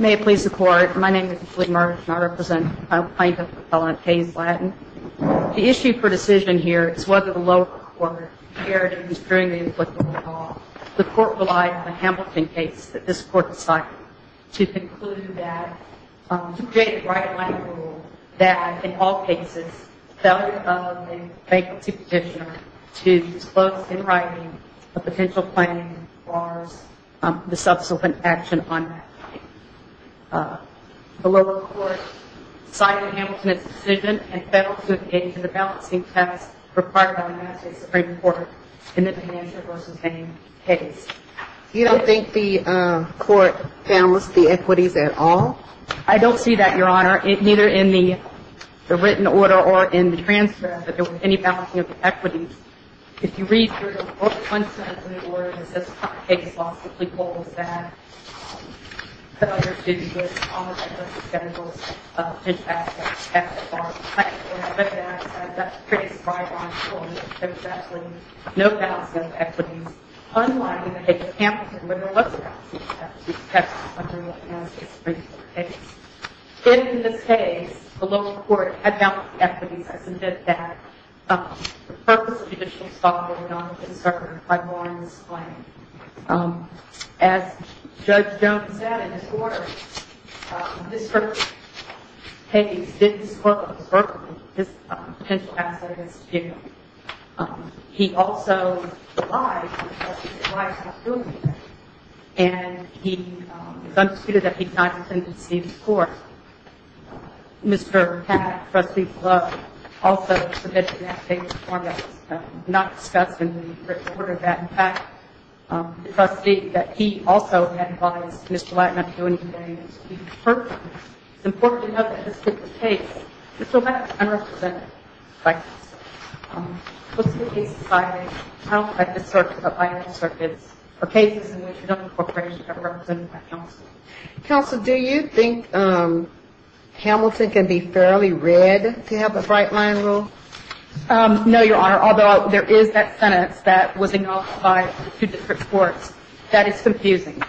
May it please the Court, my name is Julie Merge and I represent a plaintiff, a felon at Hayes Latin. The issue for decision here is whether the lower court cared in construing the inflictable law. The Court relied on the Hamilton case that this Court decided to conclude that, to create a right-of-life rule that, in all cases, felon of a bankruptcy petitioner to disclose, in writing, a potential claim as far as the subsequent action on that claim. The lower court sided with Hamilton in its decision and fell to a page in the balancing test required by the Massachusetts Supreme Court in the financial v. Hayes case. You don't think the Court balanced the equities at all? I don't see that, Your Honor, neither in the written order or in the transfer, that there was any balancing of the equities. If you read through the book, one sentence in the order that says, Hayes lawfully holds that felon should be given all of the equities scheduled to be passed at the bar of the plaintiff. But that's a pretty strident ruling. There was absolutely no balancing of equities. Unlike in the case of Hamilton, where there was a balancing test under the Massachusetts Supreme Court case. In this case, the lower court had balanced the equities. I submit that the purpose of judicial stock was not discerned by the law in this claim. As Judge Jones said in his order, Mr. Hayes didn't disclose Berkeley, his potential asset against Jacob. He also lied because his wife was doing it. And it's undisputed that he did not intend to deceive the Court. Mr. Pat, trustee, also submitted that case in the form that was not discussed in the written order. In fact, the trustee, that he also had advised Mr. Lattner not to do anything to deceive the Court. It's important to note that this particular case is so much unrepresented by counsel. Most of the cases cited are held by the circuits or cases in which no corporations are represented by counsel. Counsel, do you think Hamilton can be fairly read to have a bright-line rule? No, Your Honor, although there is that sentence that was acknowledged by two different courts. That is confusing,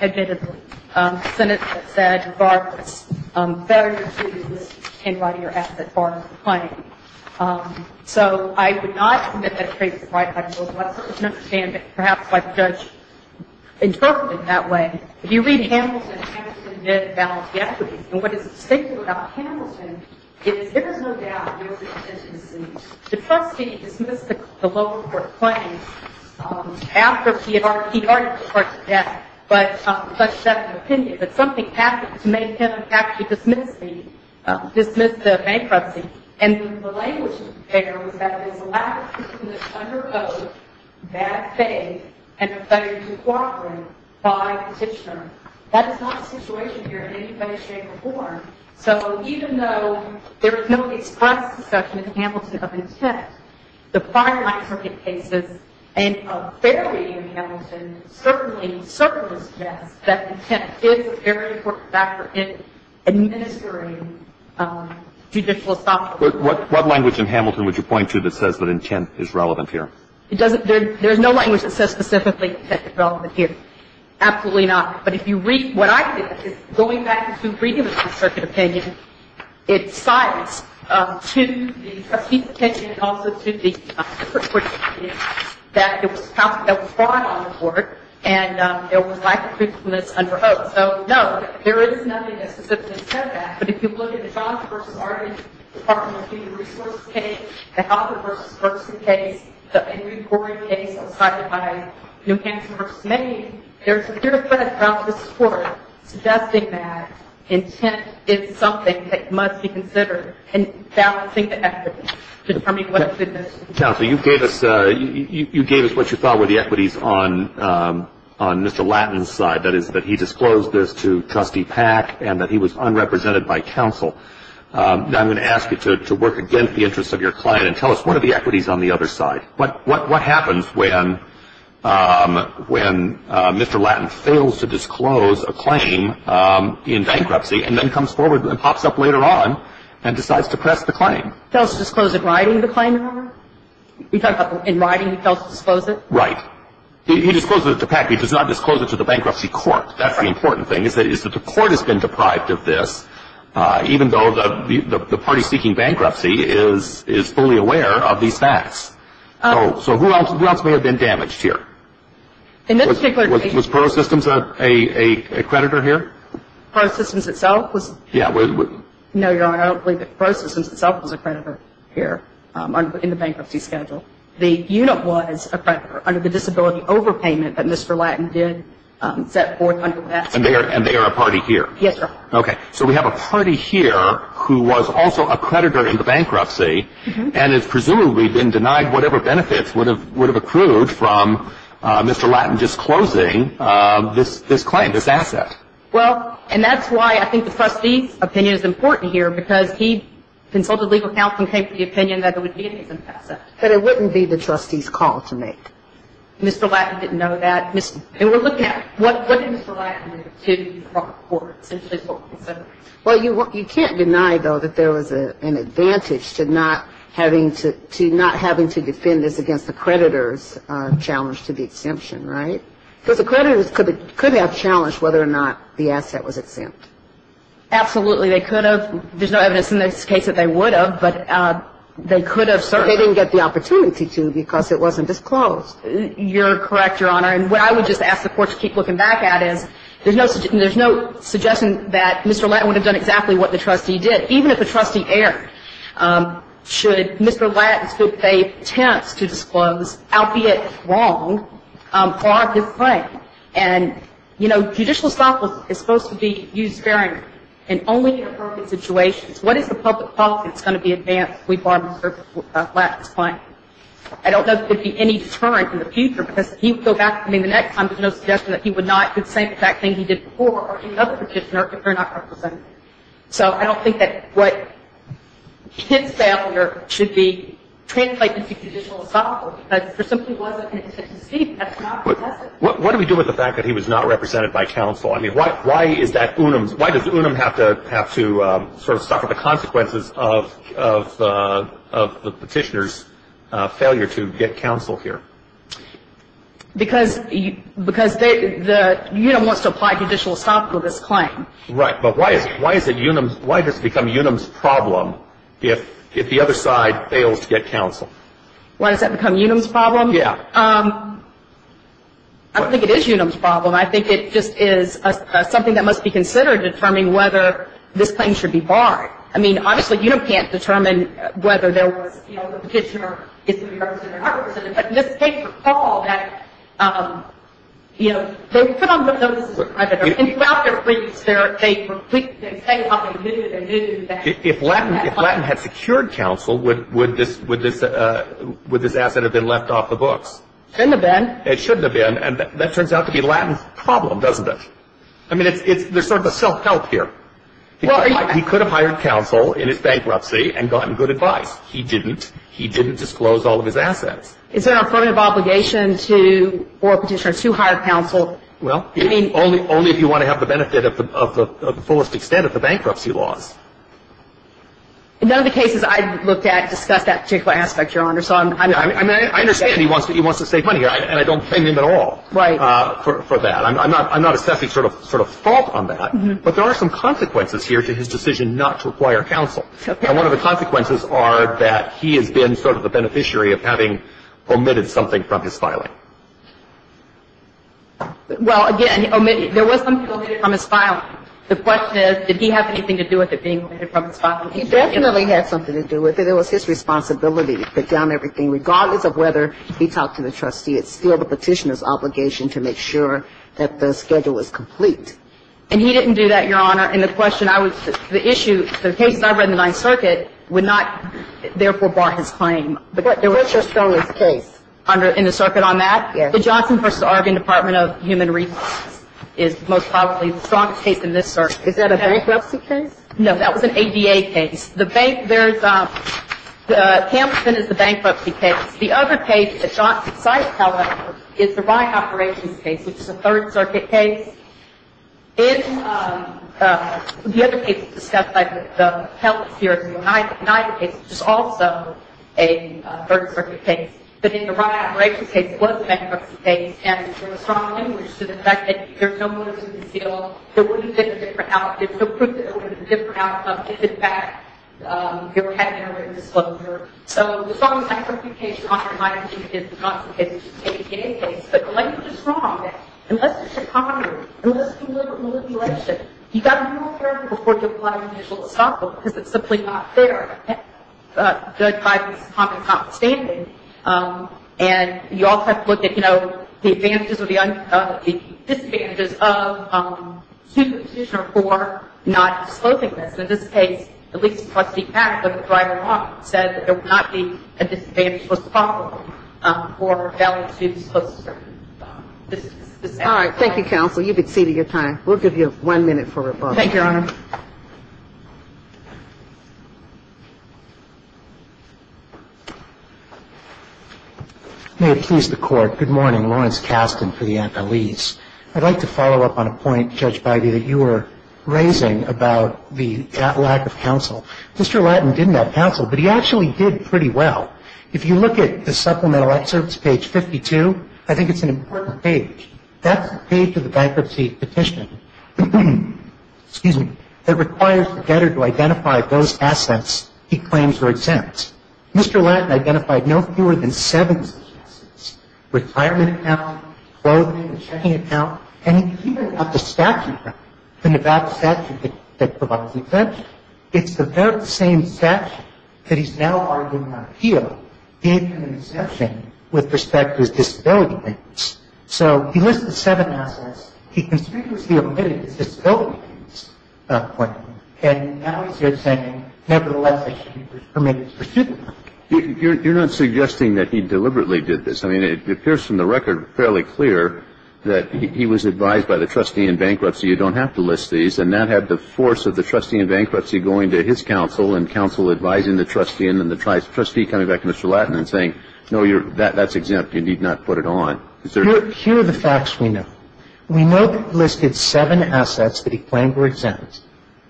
admittedly. A sentence that said, Barclays, Barclays can write your asset, Barclays can claim. So I would not submit that it creates a bright-line rule unless there is an understanding, perhaps like Judge interpreted it that way. If you read Hamilton, Hamilton did balance the equities. And what is distinctive about Hamilton is there is no doubt there was an intention to deceive. The trustee dismissed the lower court claim after he had argued the court's death, but pushed that to an opinion. But something happened to make him actually dismiss the bankruptcy. And the language there was that it was a lack of confidence under oath, bad faith, and a failure to cooperate by petitioner. That is not the situation here in any way, shape, or form. So even though there is no explicit discussion in Hamilton of intent, the prior light circuit cases and a fair reading of Hamilton certainly suggests that intent is a very important factor in administering judicial estoppel. But what language in Hamilton would you point to that says that intent is relevant here? It doesn't. There is no language that says specifically intent is relevant here. Absolutely not. But if you read what I did, it's going back to reading the circuit opinion, it cites to the trustee's attention and also to the court's opinion that it was fraud on the court and there was lack of But if you look at the Johnson v. Arden Department of Human Resources case, the Hawthorne v. Ferguson case, the Henry Cory case that was cited by New Hampshire v. Maine, there's a clear thread across this court suggesting that intent is something that must be considered in balancing the equity, determining what it is. Counsel, you gave us what you thought were the equities on Mr. Lattin's side, that is that he disclosed this to Trustee Pack and that he was unrepresented by counsel. Now I'm going to ask you to work against the interests of your client and tell us what are the equities on the other side. What happens when Mr. Lattin fails to disclose a claim in bankruptcy and then comes forward and pops up later on and decides to press the claim? Fails to disclose it in writing, the claim number? You're talking about in writing he fails to disclose it? Right. He discloses it to Pack. He does not disclose it to the bankruptcy court. That's the important thing is that the court has been deprived of this even though the party seeking bankruptcy is fully aware of these facts. So who else may have been damaged here? Was ProSystems a creditor here? ProSystems itself was. Yeah. No, Your Honor, I don't believe that ProSystems itself was a creditor here in the bankruptcy schedule. The unit was a creditor under the disability overpayment that Mr. Lattin did set forth. And they are a party here? Yes, Your Honor. Okay. So we have a party here who was also a creditor in the bankruptcy and has presumably been denied whatever benefits would have accrued from Mr. Lattin disclosing this claim, this asset. Well, and that's why I think the trustee's opinion is important here because he consulted legal counsel and came to the opinion that it would be an innocent asset. But it wouldn't be the trustee's call to make. Mr. Lattin didn't know that. And we're looking at what did Mr. Lattin do to the court essentially for consent? Well, you can't deny, though, that there was an advantage to not having to defend this against the creditor's challenge to the exemption, right? Because the creditors could have challenged whether or not the asset was exempt. Absolutely. They could have. There's no evidence in this case that they would have, but they could have certainly. They didn't get the opportunity to because it wasn't disclosed. You're correct, Your Honor. And what I would just ask the court to keep looking back at is there's no suggestion that Mr. Lattin would have done exactly what the trustee did. Even if a trustee erred, should Mr. Lattin still pay tenants to disclose, albeit wrong, for his claim? And, you know, judicial stock is supposed to be used sparingly and only in appropriate situations. What is the public policy that's going to be advanced if we bar Mr. Lattin's claim? I don't know that there would be any deterrent in the future because he would go back. I mean, the next time there's no suggestion that he would not consent to that thing he did before or to another petitioner if they're not represented. So I don't think that what his failure should be translated to judicial stock, because there simply wasn't an intent to deceive him. That's not the message. What do we do with the fact that he was not represented by counsel? I mean, why is that Unum's – why does Unum have to sort of suffer the consequences of the petitioner's failure to get counsel here? Because Unum wants to apply judicial stock to this claim. Right. But why does it become Unum's problem if the other side fails to get counsel? Why does that become Unum's problem? Yeah. I don't think it is Unum's problem. I think it just is something that must be considered, determining whether this claim should be barred. I mean, obviously, Unum can't determine whether there was, you know, the petitioner is going to be represented or not represented. But just take the fall that, you know, they put on notices of credit. And throughout their briefs, they say how they knew that they knew that. If Lattin had secured counsel, would this asset have been left off the books? It shouldn't have been. It shouldn't have been. And that turns out to be Lattin's problem, doesn't it? I mean, there's sort of a self-help here. He could have hired counsel in his bankruptcy and gotten good advice. He didn't. He didn't disclose all of his assets. Is there an affirmative obligation to – or a petitioner to hire counsel? Well, only if you want to have the benefit of the fullest extent of the bankruptcy laws. None of the cases I've looked at discuss that particular aspect, Your Honor. I understand he wants to save money, and I don't blame him at all for that. I'm not assessing sort of fault on that. But there are some consequences here to his decision not to require counsel. And one of the consequences are that he has been sort of the beneficiary of having omitted something from his filing. Well, again, there was something omitted from his filing. The question is, did he have anything to do with it being omitted from his filing? He definitely had something to do with it. It was his responsibility to put down everything, regardless of whether he talked to the trustee. It's still the petitioner's obligation to make sure that the schedule is complete. And he didn't do that, Your Honor. And the question I would – the issue – the cases I've read in the Ninth Circuit would not therefore bar his claim. What's your strongest case? In the circuit on that? Yes. The Johnson v. Oregon Department of Human Resources is most probably the strongest case in this circuit. Is that a bankruptcy case? No, that was an ADA case. It's the bank – there's – Campson is the bankruptcy case. The other case that Johnson cites, however, is the Ryan Operations case, which is a Third Circuit case. In the other cases discussed, like the Pellissier v. Oneida case, which is also a Third Circuit case. But in the Ryan Operations case, it was a bankruptcy case. And there was strong language to the fact that there's no motive to conceal. There wouldn't have been a different outcome. If, in fact, there had been a written disclosure. So, the strong language of the case, Your Honor, lies in his non-substantive ADA case. But the language is wrong. Unless it's a conglomerate, unless it's a deliberate manipulation, you've got to be more careful before you apply judicial estoppel because it's simply not fair. Judged by this common common standing, and you also have to look at, you know, the advantages or the disadvantages of a superposition or four not disclosing this. In this case, the lease custody pact with the driver-in-law said that there would not be a disadvantage, was possible, or a value to the superposition. All right. Thank you, counsel. You've exceeded your time. We'll give you one minute for rebuttal. Thank you, Your Honor. May it please the Court. Good morning. Lawrence Kasten for the Antalese. I'd like to follow up on a point, Judge Bidey, that you were raising about the lack of counsel. Mr. Lattin didn't have counsel, but he actually did pretty well. If you look at the supplemental excerpts, page 52, I think it's an important page. That's the page of the bankruptcy petition that requires the debtor to identify those assets he claims were exempt. Mr. Lattin identified no fewer than seven such assets, retirement account, clothing, the checking account, and he even got the statute right, the Nevada statute that provides the exemption. It's about the same statute that he's now arguing on appeal, gave him an exemption with respect to his disability payments. So he listed seven assets. He conspicuously omitted his disability payments point, and now he's here saying, nevertheless, he was permitted to pursue them. You're not suggesting that he deliberately did this. I mean, it appears from the record fairly clear that he was advised by the trustee in bankruptcy, you don't have to list these, and that had the force of the trustee in bankruptcy going to his counsel and counsel advising the trustee and then the trustee coming back to Mr. Lattin and saying, no, that's exempt. You need not put it on. Here are the facts we know. We know that he listed seven assets that he claimed were exempt.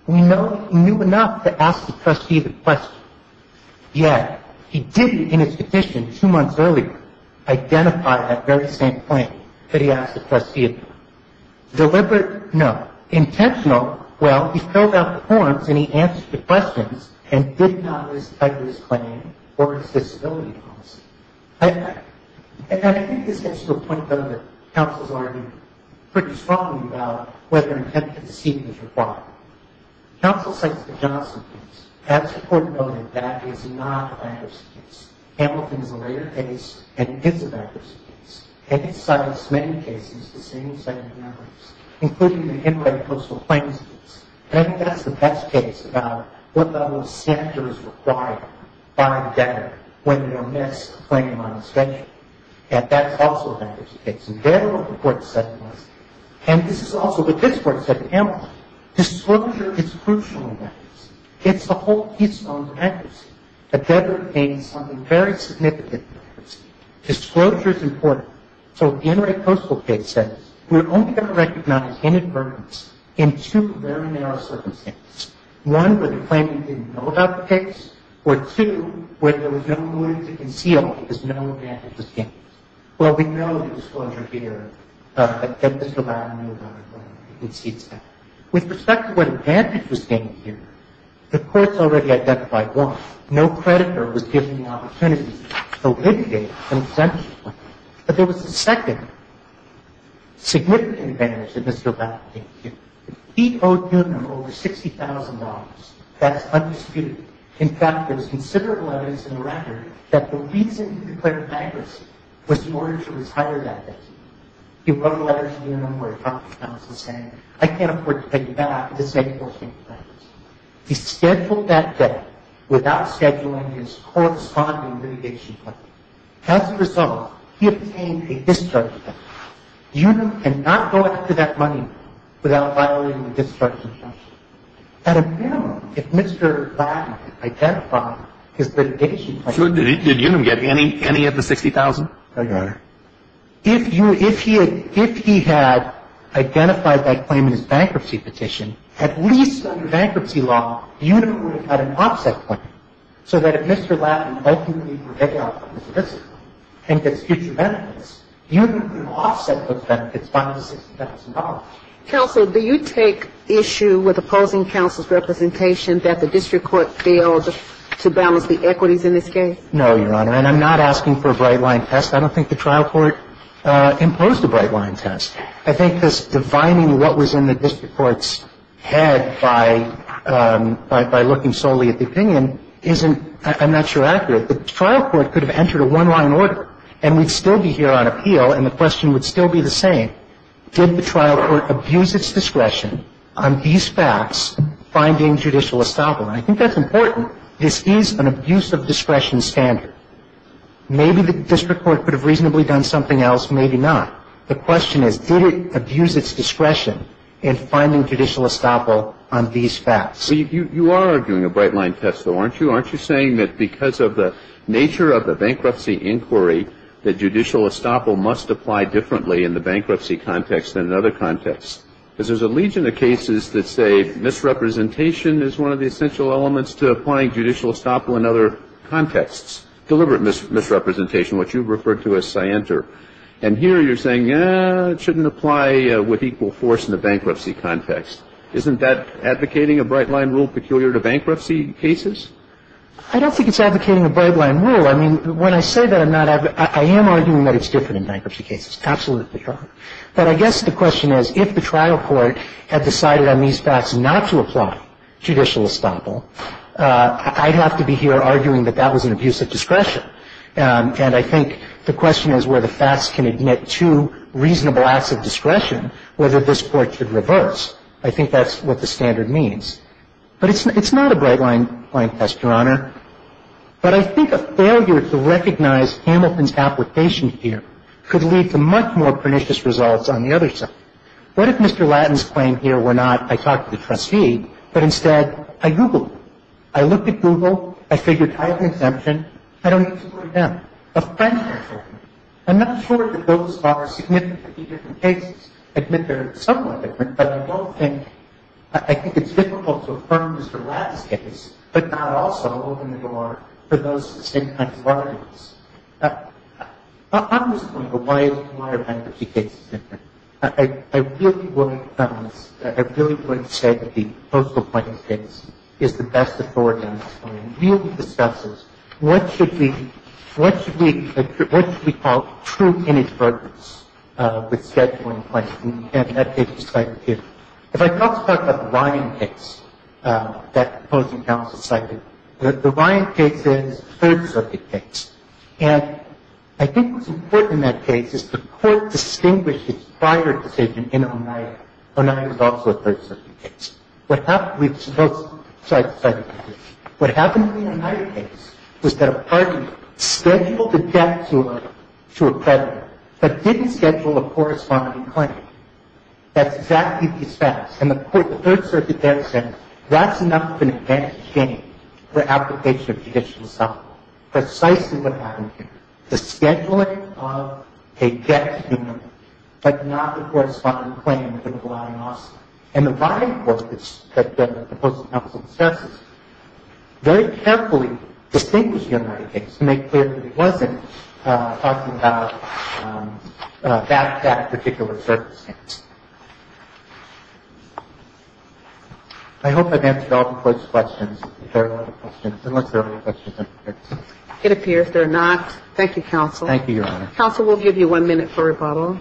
We know he knew enough to ask the trustee the question, yet he didn't, in his petition two months earlier, identify that very same claim that he asked the trustee about. Deliberate? No. Intentional? Well, he filled out the forms and he answered the questions and did not list either his claim or his disability policy. And I think this gets to a point, though, that counsels argue pretty strongly about whether intent to deceive is required. Counsel cites the Johnson case. As the court noted, that is not a bankruptcy case. Hamilton is a later case and is a bankruptcy case. And it cites many cases, the same set of memories, including the Henry Coastal Claims case. And I think that's the best case about what level of censure is required by the debtor when you omit a claim on a schedule. And that's also a bankruptcy case. The debtor, the court said it was. And this is also what this court said to Hamilton. Disclosure is crucial in bankruptcy. It's the whole keystone to bankruptcy. A debtor gains something very significant from bankruptcy. Disclosure is important. So the Henry Coastal case says we're only going to recognize inadvertence in two very narrow circumstances. One, where the claimant didn't know about the case, or two, where there was no evidence to conceal because no advantage was gained. Well, we know the disclosure here. The debtor did not know about the claim. He concedes that. With respect to what advantage was gained here, the courts already identified, one, no creditor was given the opportunity to solicit a consensual claim. But there was a second significant advantage that Mr. O'Bannon didn't give. He owed Newton over $60,000. That's undisputed. In fact, there's considerable evidence in the record that the reason he declared bankruptcy was in order to retire that debtor. He wrote a letter to Newton where he probably found something saying, I can't afford to pay you back. This may be forced into bankruptcy. He scheduled that debt without scheduling his corresponding litigation claim. As a result, he obtained a discharge. Newton cannot go after that money without violating the discharge. At a minimum, if Mr. Lattin identified his litigation claim. Did Newton get any of the $60,000? I got it. If he had identified that claim in his bankruptcy petition, at least under bankruptcy law Newton would have had an offset claim. So that if Mr. Lattin ultimately forgets his litigation claim and gets future benefits, Newton can offset those benefits by $60,000. Counsel, do you take issue with opposing counsel's representation that the district court failed to balance the equities in this case? No, Your Honor. And I'm not asking for a bright-line test. I don't think the trial court imposed a bright-line test. I think this defining what was in the district court's head by looking solely at the district court's testimony. I think the district court's testimony, in my opinion, isn't, I'm not sure, accurate. The trial court could have entered a one-line order, and we'd still be here on appeal, and the question would still be the same. Did the trial court abuse its discretion on these facts finding judicial estoppel? And I think that's important. This is an abuse of discretion standard. Maybe the district court could have reasonably done something else. Maybe not. The question is, did it abuse its discretion in finding judicial estoppel on these facts? You are doing a bright-line test, though, aren't you? Aren't you saying that because of the nature of the bankruptcy inquiry, that judicial estoppel must apply differently in the bankruptcy context than in other contexts? Because there's a legion of cases that say misrepresentation is one of the essential elements to applying judicial estoppel in other contexts, deliberate misrepresentation, which you've referred to as scienter. And here you're saying, eh, it shouldn't apply with equal force in the bankruptcy context. Isn't that advocating a bright-line rule peculiar to bankruptcy cases? I don't think it's advocating a bright-line rule. I mean, when I say that, I'm not – I am arguing that it's different in bankruptcy cases. Absolutely. But I guess the question is, if the trial court had decided on these facts not to apply judicial estoppel, I'd have to be here arguing that that was an abuse of discretion. And I think the question is where the facts can admit to reasonable acts of discretion whether this Court should reverse. I think that's what the standard means. But it's not a bright-line test, Your Honor. But I think a failure to recognize Hamilton's application here could lead to much more pernicious results on the other side. What if Mr. Lattin's claim here were not, I talked to the trustee, but instead I Googled him? I looked at Google. I figured I have an exemption. I don't need to go to them. A Frenchman's argument. I'm not sure that those are significantly different cases. I admit they're somewhat different. But I don't think – I think it's difficult to affirm Mr. Lattin's case, but not also open the door for those same kinds of arguments. I'm just wondering why are bankruptcy cases different? I really wouldn't – I really wouldn't say that the Postal Point case is the best case. What happened in the United case was that a party scheduled a debt to a creditor, but didn't schedule a corresponding claim. That's exactly the status. And the Third Circuit there said that's enough of an advantage gain for application of judicial asylum. Precisely what happened here. The scheduling of a debt to a creditor, but not the corresponding claim with the relying officer. And the relying officer that the Postal Counsel discusses very carefully distinguished the United case to make clear that it wasn't talking about that particular circumstance. I hope I've answered all the questions. There are a lot of questions. Unless there are any questions. It appears there are not. Thank you, Counsel. Thank you, Your Honor. Counsel, we'll give you one minute for rebuttal.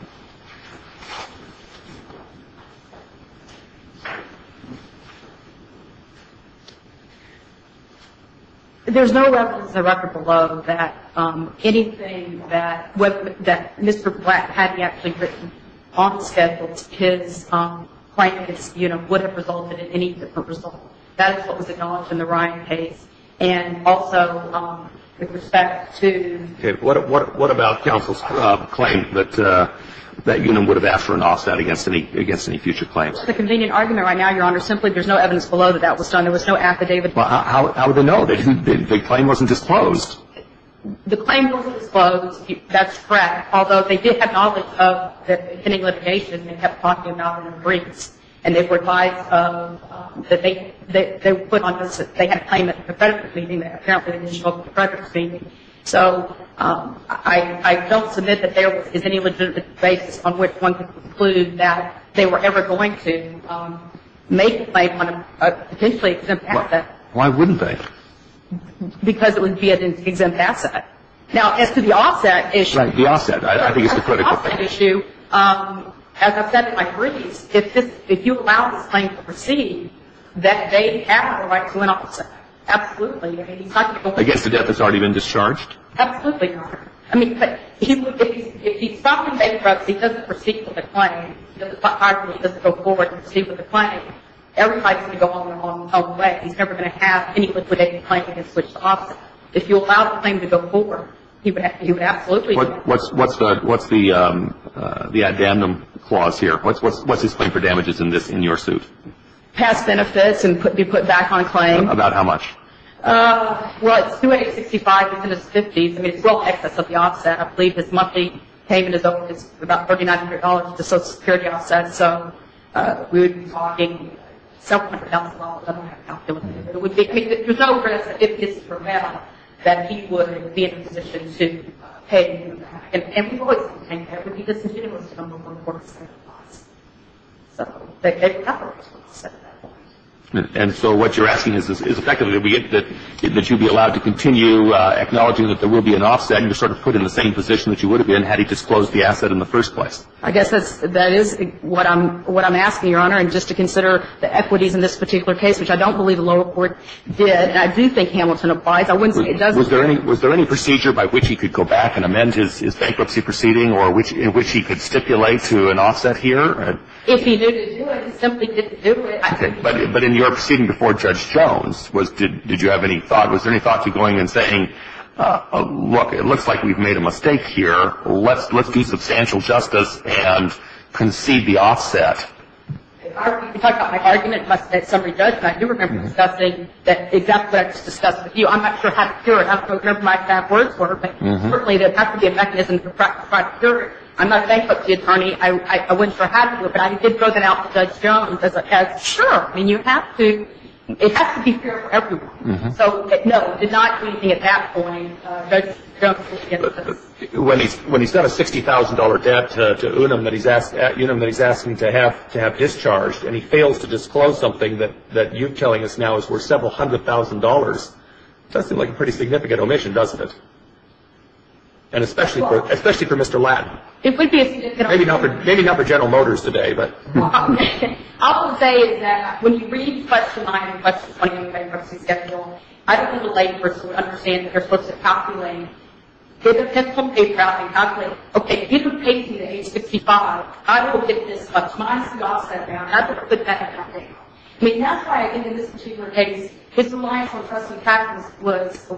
There's no record below that anything that Mr. Black had he actually written on the schedule, his claim would have resulted in any different result. That is what was acknowledged in the Ryan case. And also, with respect to – What about counsel's claim that that unit would have asked for an offset against any future claims? It's a convenient argument right now, Your Honor. Simply there's no evidence below that that was done. There was no affidavit. How would they know? The claim wasn't disclosed. The claim wasn't disclosed. That's correct. Although they did have knowledge of the pending litigation and kept talking about it in briefs. And they were advised that they put on – they had a claim at the creditor's meeting. So I don't submit that there is any legitimate basis on which one could conclude that they were ever going to make a claim on a potentially exempt asset. Why wouldn't they? Because it would be an exempt asset. Now, as to the offset issue. Right, the offset. I think it's a critical thing. The offset issue, as I've said in my briefs, if you allow this claim to proceed, that they have the right to an offset. Absolutely. Against the death that's already been discharged? Absolutely, Your Honor. I mean, if he's stopped in bankruptcy, he doesn't proceed with the claim. He doesn't go forward and proceed with the claim. Everybody's going to go on their own way. He's never going to have any liquidated claim against which to offset. If you allow the claim to go forward, he would absolutely – What's the addendum clause here? What's his claim for damages in this, in your suit? Pass benefits and be put back on claim. About how much? Well, it's 2865. It's in his 50s. I mean, it's well in excess of the offset. I believe his monthly payment is about $3,900 to the Social Security offset. So we would be talking several hundred thousand dollars. I don't have a calculator. There's no risk, if this is for real, that he would be in a position to pay. And people always complain that it would be disingenuous to come to a court and say it was. So they probably just want to set it that way. And so what you're asking is effectively that you be allowed to continue acknowledging that there will be an offset and you're sort of put in the same position that you would have been had he disclosed the asset in the first place. I guess that is what I'm asking, Your Honor, and just to consider the equities in this particular case, which I don't believe the lower court did. And I do think Hamilton applies. I wouldn't say it doesn't. Was there any procedure by which he could go back and amend his bankruptcy proceeding or in which he could stipulate to an offset here? If he knew to do it, he simply did to do it. Okay. But in your proceeding before Judge Jones, did you have any thought? Was there any thought to going and saying, look, it looks like we've made a mistake here. Let's do substantial justice and concede the offset. You talked about my argument in my summary judgment. I do remember discussing exactly what I just discussed with you. I'm not sure how to cure it. I don't remember if my exact words were. But certainly there has to be a mechanism to try to cure it. I'm not thankful to the attorney. I wouldn't sure how to do it. But I did throw that out to Judge Jones. Sure. I mean, you have to. It has to be fair for everyone. So, no, did not do anything at that point. When he sent a $60,000 debt to Unum that he's asking to have discharged and he fails to disclose something that you're telling us now is worth several hundred thousand dollars, it does seem like a pretty significant omission, doesn't it? And especially for Mr. Lattin. It would be a significant omission. Maybe not for General Motors today. I will say is that when you read question 9 and question 20 on the bankruptcy schedule, I don't think a layperson would understand that they're supposed to calculate, get a pencil and paper out and calculate, okay, if you can pay me the $865,000, I will get this much minus the offset amount, and I'm going to put that in my paper. I mean, that's why, again, in this particular case, his reliance on trust and practice was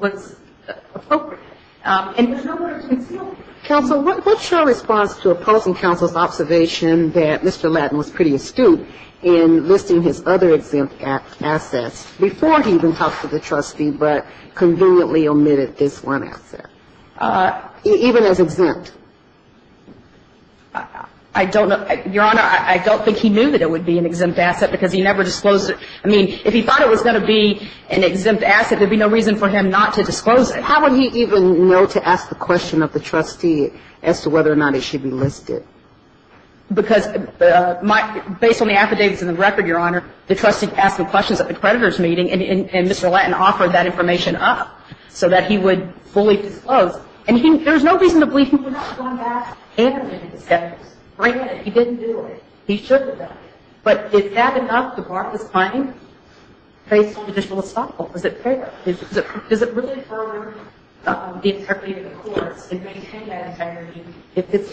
appropriate. And there's no way to conceal it. Counsel, what's your response to opposing counsel's observation that Mr. Lattin was pretty astute in listing his other exempt assets before he even talked to the trustee but conveniently omitted this one asset, even as exempt? I don't know. Your Honor, I don't think he knew that it would be an exempt asset because he never disclosed it. I mean, if he thought it was going to be an exempt asset, there would be no reason for him not to disclose it. And how would he even know to ask the question of the trustee as to whether or not it should be listed? Because based on the affidavits and the record, Your Honor, the trustee asked him questions at the creditor's meeting, and Mr. Lattin offered that information up so that he would fully disclose. And there's no reason to believe he would not have gone back and omitted this asset. He didn't do it. He should have done it. But is that enough to bar his claim based on judicial estoppel? Is it fair? Is it really fair for the integrity of the courts to maintain that integrity if it's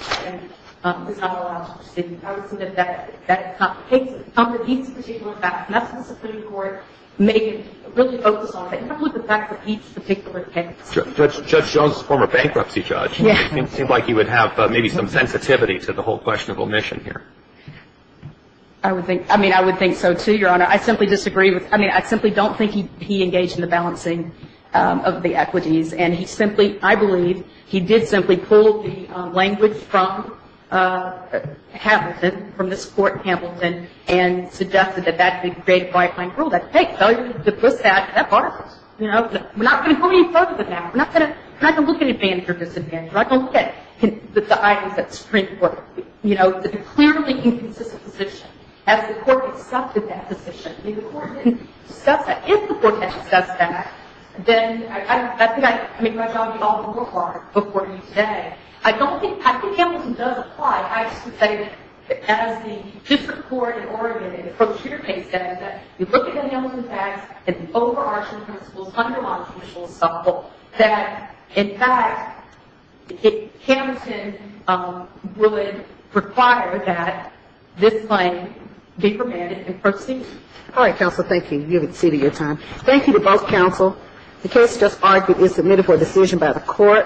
not allowed to proceed? I would say that that completes a particular fact. And that's what the Supreme Court may really focus on. It completes the fact that each particular case. Judge Jones is a former bankruptcy judge. It seems like he would have maybe some sensitivity to the whole question of omission here. I would think so, too, Your Honor. I simply disagree with – I mean, I simply don't think he engaged in the balancing of the equities. And he simply – I believe he did simply pull the language from Hamilton, from this Court, Hamilton, and suggested that that would create a by-claim rule. That's, hey, if I put that, that's part of it. You know, we're not going to go any further than that. We're not going to look at advantage or disadvantage. We're not going to look at the items that Supreme Court, you know, the clearly inconsistent position, as the Court accepted that position. I mean, the Court didn't discuss that. If the Court had discussed that, then I think I – I mean, my job would be all the more hard before you today. I don't think – I think Hamilton does apply. I just would say that as the – just the Court in Oregon, in the procedure case, says that you look at the Hamilton facts and the overarching principles, underlying principles that, in fact, Hamilton would require that this claim be permitted in proceeding. All right, counsel, thank you. You have exceeded your time. Thank you to both counsel. The case just argued is submitted for decision by the Court.